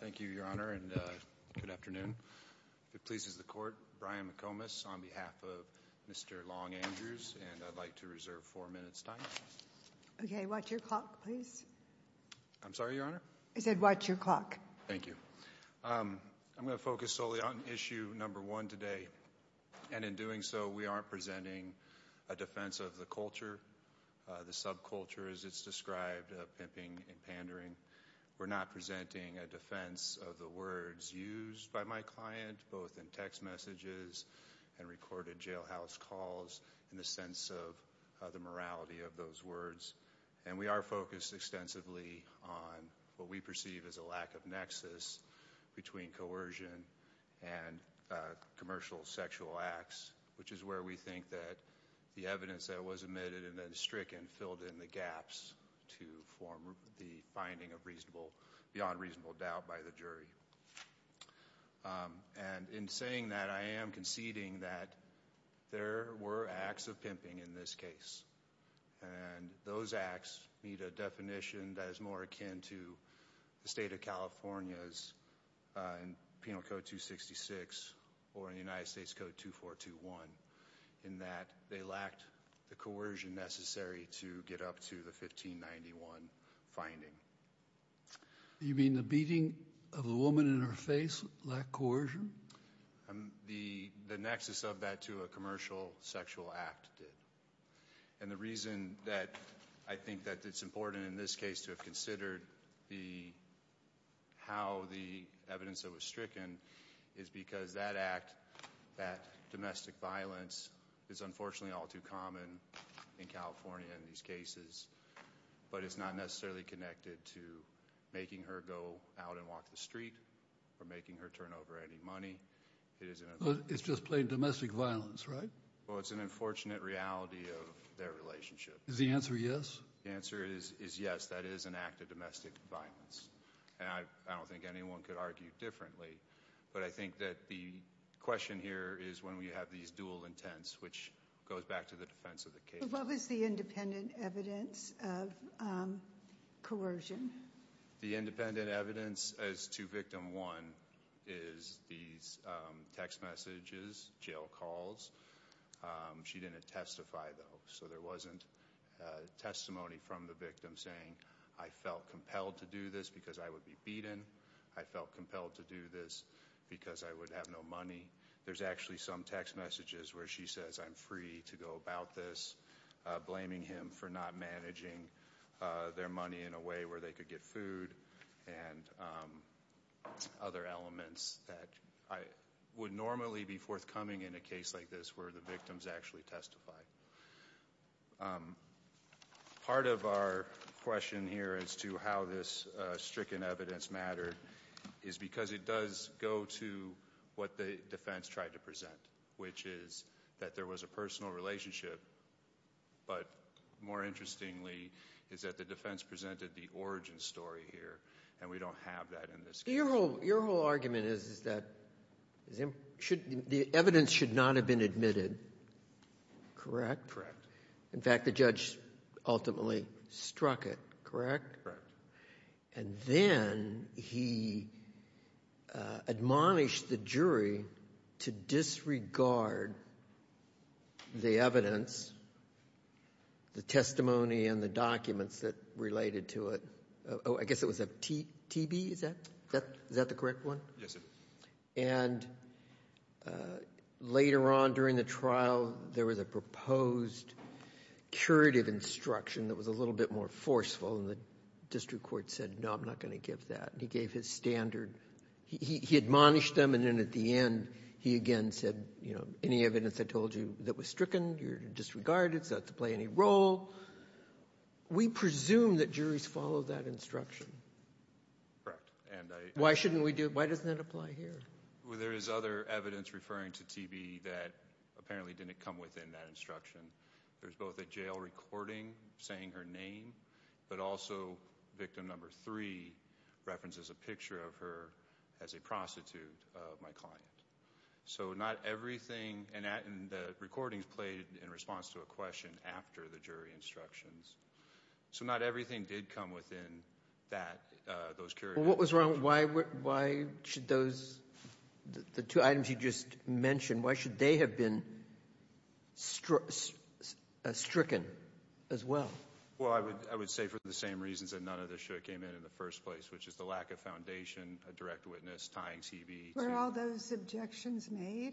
Thank you, Your Honor, and good afternoon. If it pleases the Court, Brian McComas on behalf of Mr. Long Andrews, and I'd like to reserve four minutes' time. Okay, watch your clock, please. I'm sorry, Your Honor? I said watch your clock. Thank you. I'm going to focus solely on issue number one today. And in doing so, we aren't presenting a defense of the culture, the subculture as it's described, pimping and pandering. We're not presenting a defense of the words used by my client, both in text messages and recorded jailhouse calls, in the sense of the morality of those words. And we are focused extensively on what we perceive as a lack of nexus between coercion and commercial sexual acts, which is where we think that the evidence that was admitted and then stricken filled in the gaps to form the finding of beyond reasonable doubt by the jury. And in saying that, I am conceding that there were acts of pimping in this case. And those acts meet a definition that is more akin to the state of California's in Penal Code 266 or in the United States Code 2421, in that they lacked the coercion necessary to get up to the 1591 finding. You mean the beating of the woman in her face lacked coercion? The nexus of that to a commercial sexual act did. And the reason that I think that it's important in this case to have considered how the evidence that was stricken is because that act, that domestic violence, is unfortunately all too common in California in these cases. But it's not necessarily connected to making her go out and walk the street or making her turn over any money. It's just plain domestic violence, right? Well, it's an unfortunate reality of their relationship. Is the answer yes? The answer is yes. That is an act of domestic violence. And I don't think anyone could argue differently. But I think that the question here is when we have these dual intents, which goes back to the defense of the case. So what was the independent evidence of coercion? The independent evidence as to victim one is these text messages, jail calls. She didn't testify, though. So there wasn't testimony from the victim saying, I felt compelled to do this because I would be beaten. I felt compelled to do this because I would have no money. There's actually some text messages where she says, I'm free to go about this, blaming him for not managing their money in a way where they could get food and other elements that would normally be forthcoming in a case like this where the victims actually testify. Part of our question here as to how this stricken evidence mattered is because it does go to what the defense tried to present, which is that there was a personal relationship. But more interestingly is that the defense presented the origin story here, and we don't have that in this case. So your whole argument is that the evidence should not have been admitted, correct? In fact, the judge ultimately struck it, correct? Correct. And then he admonished the jury to disregard the evidence, the testimony and the documents that related to it. Oh, I guess it was a TB, is that the correct one? Yes, sir. And later on during the trial, there was a proposed curative instruction that was a little bit more forceful, and the district court said, no, I'm not going to give that. He gave his standard. He admonished them, and then at the end, he again said, you know, any evidence I told you that was stricken, you're disregarded, it's not to play any role. We presume that juries follow that instruction. Correct. Why shouldn't we do it? Why doesn't that apply here? Well, there is other evidence referring to TB that apparently didn't come within that instruction. There's both a jail recording saying her name, but also victim number three references a picture of her as a prostitute of my client. So not everything, and the recordings played in response to a question after the jury instructions. So not everything did come within that, those curative instructions. Well, what was wrong? Why should those, the two items you just mentioned, why should they have been stricken as well? Well, I would say for the same reasons that none of this should have came in in the first place, which is the lack of foundation, a direct witness, tying TB. Were all those objections made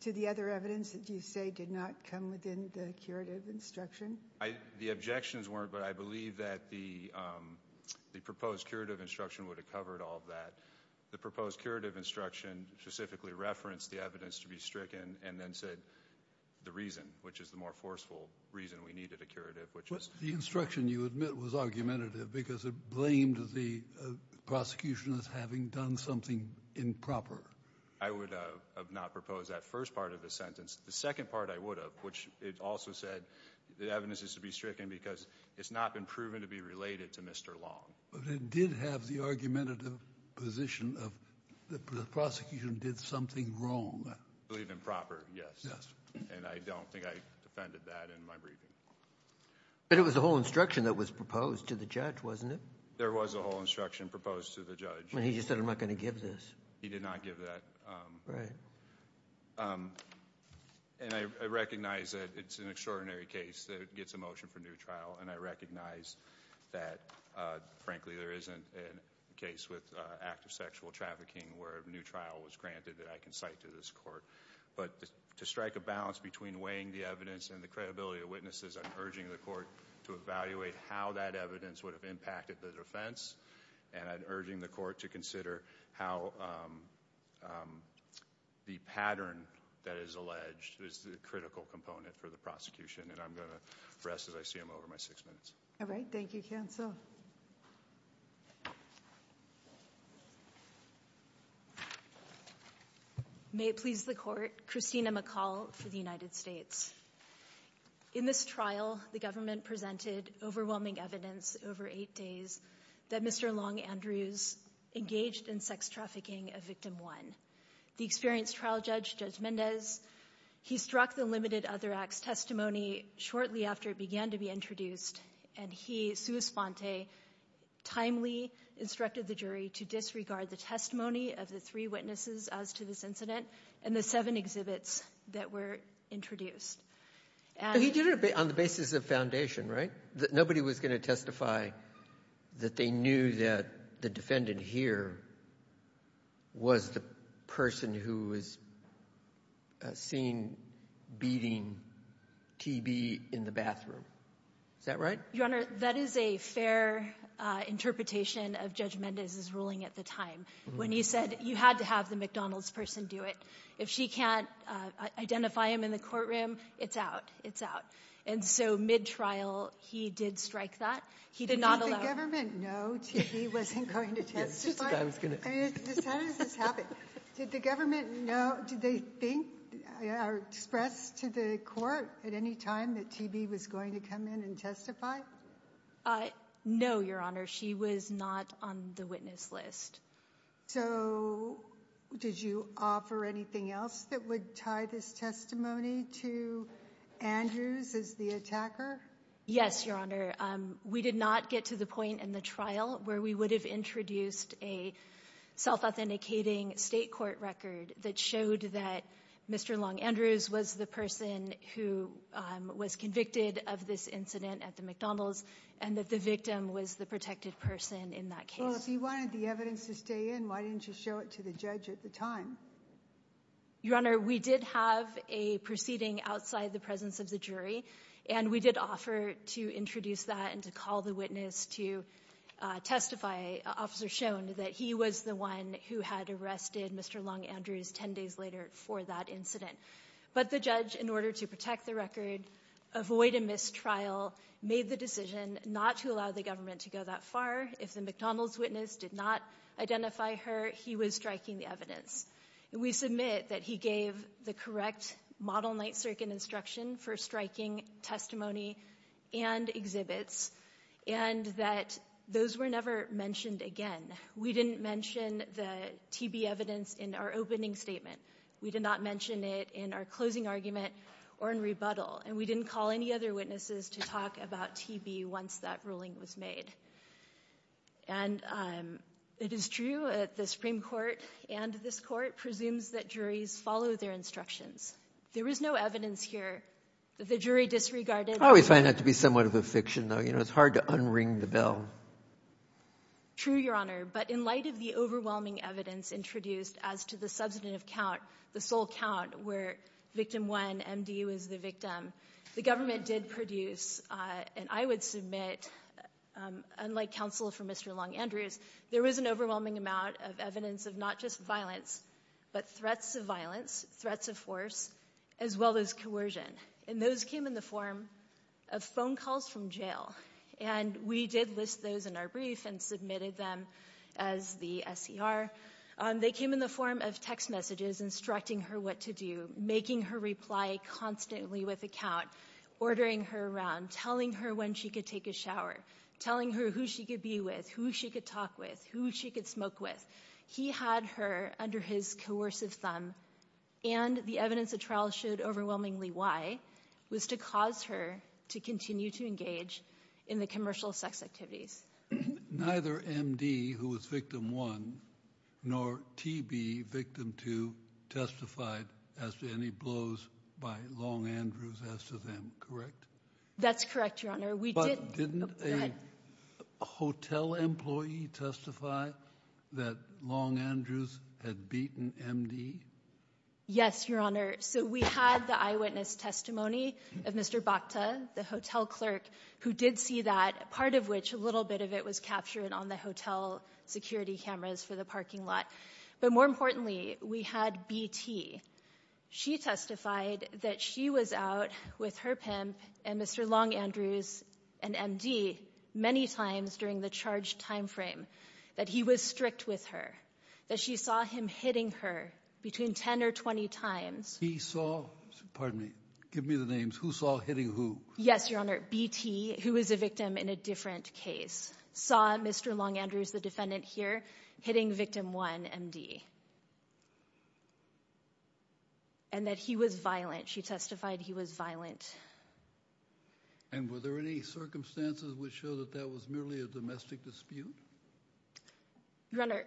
to the other evidence that you say did not come within the curative instruction? The objections weren't, but I believe that the proposed curative instruction would have covered all of that. The proposed curative instruction specifically referenced the evidence to be stricken and then said the reason, which is the more forceful reason we needed a curative. The instruction you admit was argumentative because it blamed the prosecution as having done something improper. I would have not proposed that first part of the sentence. The second part I would have, which it also said the evidence is to be stricken because it's not been proven to be related to Mr. Long. But it did have the argumentative position of the prosecution did something wrong. I believe improper, yes. And I don't think I defended that in my briefing. But it was the whole instruction that was proposed to the judge, wasn't it? There was a whole instruction proposed to the judge. He just said I'm not going to give this. He did not give that. And I recognize that it's an extraordinary case that gets a motion for new trial, and I recognize that frankly there isn't a case with active sexual trafficking where a new trial was granted that I can cite to this court. But to strike a balance between weighing the evidence and the credibility of witnesses, I'm urging the court to evaluate how that evidence would have impacted the defense. And I'm urging the court to consider how the pattern that is alleged is the critical component for the prosecution. And I'm going to rest as I see I'm over my six minutes. All right. Thank you, counsel. May it please the court. Christina McCall for the United States. In this trial, the government presented overwhelming evidence over eight days that Mr. Long Andrews engaged in sex trafficking of victim one. The experienced trial judge, Judge Mendez, he struck the limited other acts testimony shortly after it began to be introduced, and he, sua sponte, timely instructed the jury to disregard the testimony of the three witnesses as to this incident and the seven exhibits that were introduced. He did it on the basis of foundation, right? Nobody was going to testify that they knew that the defendant here was the person who was seen beating TB in the bathroom. Is that right? Your Honor, that is a fair interpretation of Judge Mendez's ruling at the time, when he said you had to have the McDonald's person do it. If she can't identify him in the courtroom, it's out. It's out. And so mid-trial, he did strike that. He did not allow it. Did the government know TB wasn't going to testify? I mean, how does this happen? Did the government know? Did they think or express to the court at any time that TB was going to come in and testify? No, Your Honor. She was not on the witness list. So did you offer anything else that would tie this testimony to Andrews as the attacker? Yes, Your Honor. We did not get to the point in the trial where we would have introduced a self-authenticating state court record that showed that Mr. Long Andrews was the person who was convicted of this incident at the McDonald's and that the victim was the protected person in that case. Well, if he wanted the evidence to stay in, why didn't you show it to the judge at the time? Your Honor, we did have a proceeding outside the presence of the jury, and we did offer to introduce that and to call the witness to testify. Officers shown that he was the one who had arrested Mr. Long Andrews 10 days later for that incident. But the judge, in order to protect the record, avoid a mistrial, made the decision not to allow the government to go that far. If the McDonald's witness did not identify her, he was striking the evidence. We submit that he gave the correct model night circuit instruction for striking testimony and exhibits and that those were never mentioned again. We didn't mention the TB evidence in our opening statement. We did not mention it in our closing argument or in rebuttal, and we didn't call any other witnesses to talk about TB once that ruling was made. And it is true that the Supreme Court and this court presumes that juries follow their instructions. There is no evidence here that the jury disregarded. I always find that to be somewhat of a fiction, though. You know, it's hard to unring the bell. True, Your Honor, but in light of the overwhelming evidence introduced as to the substantive count, the sole count where victim one, MD, was the victim, the government did produce, and I would submit, unlike counsel for Mr. Long-Andrews, there was an overwhelming amount of evidence of not just violence but threats of violence, threats of force, as well as coercion. And those came in the form of phone calls from jail. And we did list those in our brief and submitted them as the SCR. They came in the form of text messages instructing her what to do, making her reply constantly with a count, ordering her around, telling her when she could take a shower, telling her who she could be with, who she could talk with, who she could smoke with. He had her under his coercive thumb, and the evidence of trial showed overwhelmingly why, was to cause her to continue to engage in the commercial sex activities. Neither MD, who was victim one, nor TB, victim two, testified as to any blows by Long-Andrews as to them, correct? That's correct, Your Honor. But didn't a hotel employee testify that Long-Andrews had beaten MD? Yes, Your Honor. So we had the eyewitness testimony of Mr. Bhakta, the hotel clerk, who did see that, part of which, a little bit of it was captured on the hotel security cameras for the parking lot. But more importantly, we had BT. She testified that she was out with her pimp and Mr. Long-Andrews and MD many times during the charged time frame, that he was strict with her, that she saw him hitting her between 10 or 20 times. He saw, pardon me, give me the names, who saw hitting who? Yes, Your Honor, BT, who was a victim in a different case, saw Mr. Long-Andrews, the defendant here, hitting victim one, MD. And that he was violent. She testified he was violent. And were there any circumstances which show that that was merely a domestic dispute? Your Honor,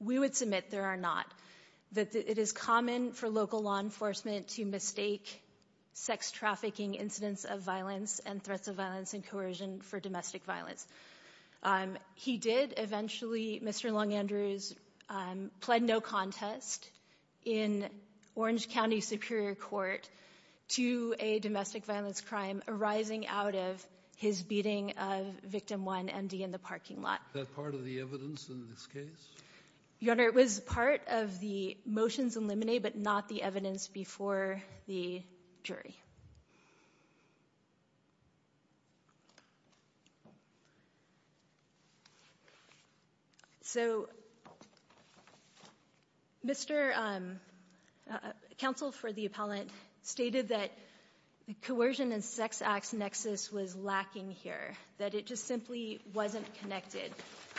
we would submit there are not. That it is common for local law enforcement to mistake sex trafficking incidents of violence and threats of violence and coercion for domestic violence. He did, eventually, Mr. Long-Andrews pled no contest in Orange County Superior Court to a domestic violence crime arising out of his beating of victim one, MD, in the parking lot. Was that part of the evidence in this case? Your Honor, it was part of the motions in limine, but not the evidence before the jury. So, Mr. Counsel for the appellant stated that the coercion and sex acts nexus was lacking here. That it just simply wasn't connected.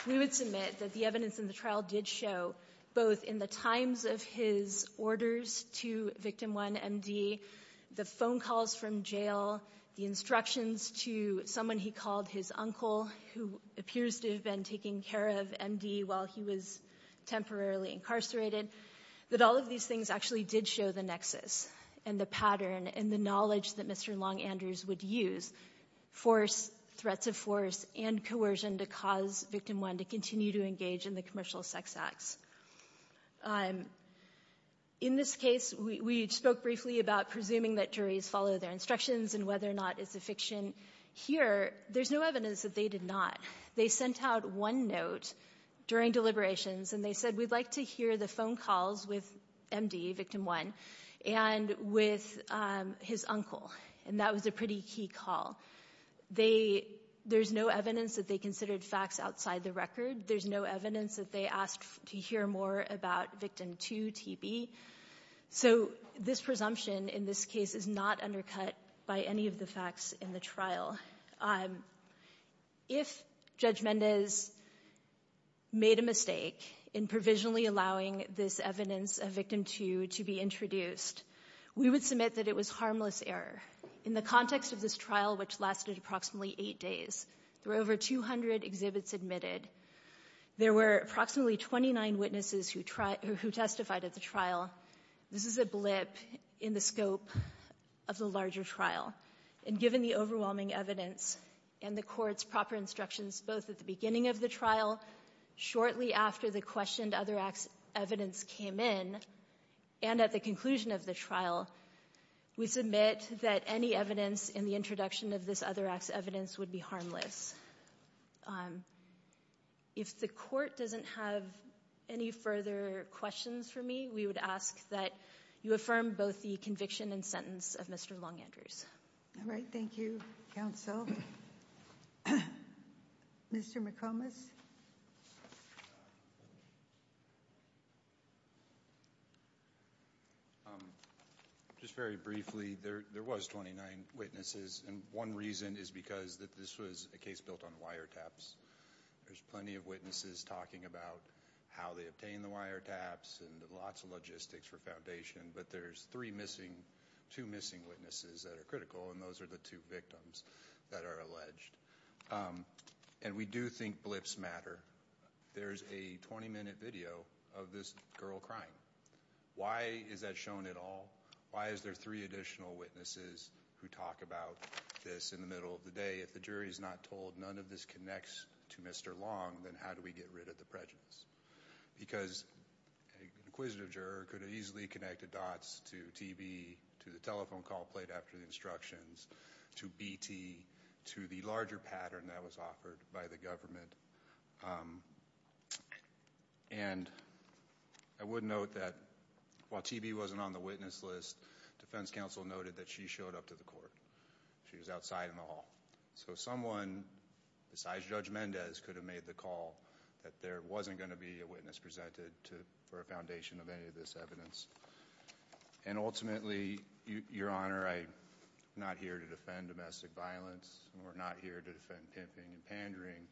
We would submit that the evidence in the trial did show, both in the times of his orders to victim one, MD, the phone calls from jail, the instructions to someone he called his uncle, who appears to have been taking care of MD while he was temporarily incarcerated, that all of these things actually did show the nexus and the pattern and the knowledge that Mr. Long-Andrews would use. Force, threats of force, and coercion to cause victim one to continue to engage in the commercial sex acts. In this case, we spoke briefly about presuming that juries follow their instructions and whether or not it's a fiction. Here, there's no evidence that they did not. They sent out one note during deliberations, and they said, we'd like to hear the phone calls with MD, victim one, and with his uncle. And that was a pretty key call. There's no evidence that they considered facts outside the record. There's no evidence that they asked to hear more about victim two, TB. So this presumption in this case is not undercut by any of the facts in the trial. If Judge Mendez made a mistake in provisionally allowing this evidence of victim two to be introduced, we would submit that it was harmless error. In the context of this trial, which lasted approximately eight days, there were over 200 exhibits admitted. There were approximately 29 witnesses who testified at the trial. This is a blip in the scope of the larger trial. And given the overwhelming evidence and the Court's proper instructions both at the beginning of the trial, shortly after the questioned other acts evidence came in, and at the conclusion of the trial, we submit that any evidence in the introduction of this other acts evidence would be harmless. If the Court doesn't have any further questions for me, we would ask that you affirm both the conviction and sentence of Mr. Long Andrews. All right. Thank you, counsel. Mr. McComas? Just very briefly, there was 29 witnesses, and one reason is because this was a case built on wiretaps. There's plenty of witnesses talking about how they obtained the wiretaps and lots of logistics for foundation, but there's three missing, two missing witnesses that are critical, and those are the two victims that are alleged. And we do think blips matter. There's a 20-minute video of this girl crying. Why is that shown at all? Why is there three additional witnesses who talk about this in the middle of the day? If the jury's not told none of this connects to Mr. Long, then how do we get rid of the prejudice? Because an inquisitive juror could have easily connected dots to TV, to the telephone call played after the instructions, to BT, to the larger pattern that was offered by the government. And I would note that while TB wasn't on the witness list, defense counsel noted that she showed up to the court. She was outside in the hall. So someone besides Judge Mendez could have made the call that there wasn't going to be a witness presented for a foundation of any of this evidence. And ultimately, Your Honor, I'm not here to defend domestic violence. We're not here to defend pimping and pandering.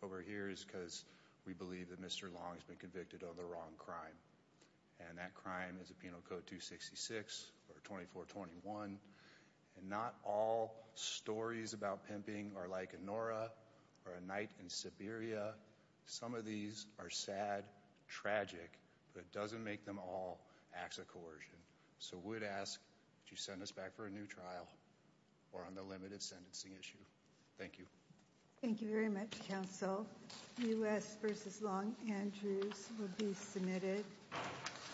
What we're here is because we believe that Mr. Long has been convicted of the wrong crime. And that crime is a Penal Code 266 or 2421. And not all stories about pimping are like a Nora or a night in Siberia. Some of these are sad, tragic, but it doesn't make them all acts of coercion. So we would ask that you send us back for a new trial or on the limited sentencing issue. Thank you. Thank you very much, counsel. U.S. v. Long, Andrews will be submitted.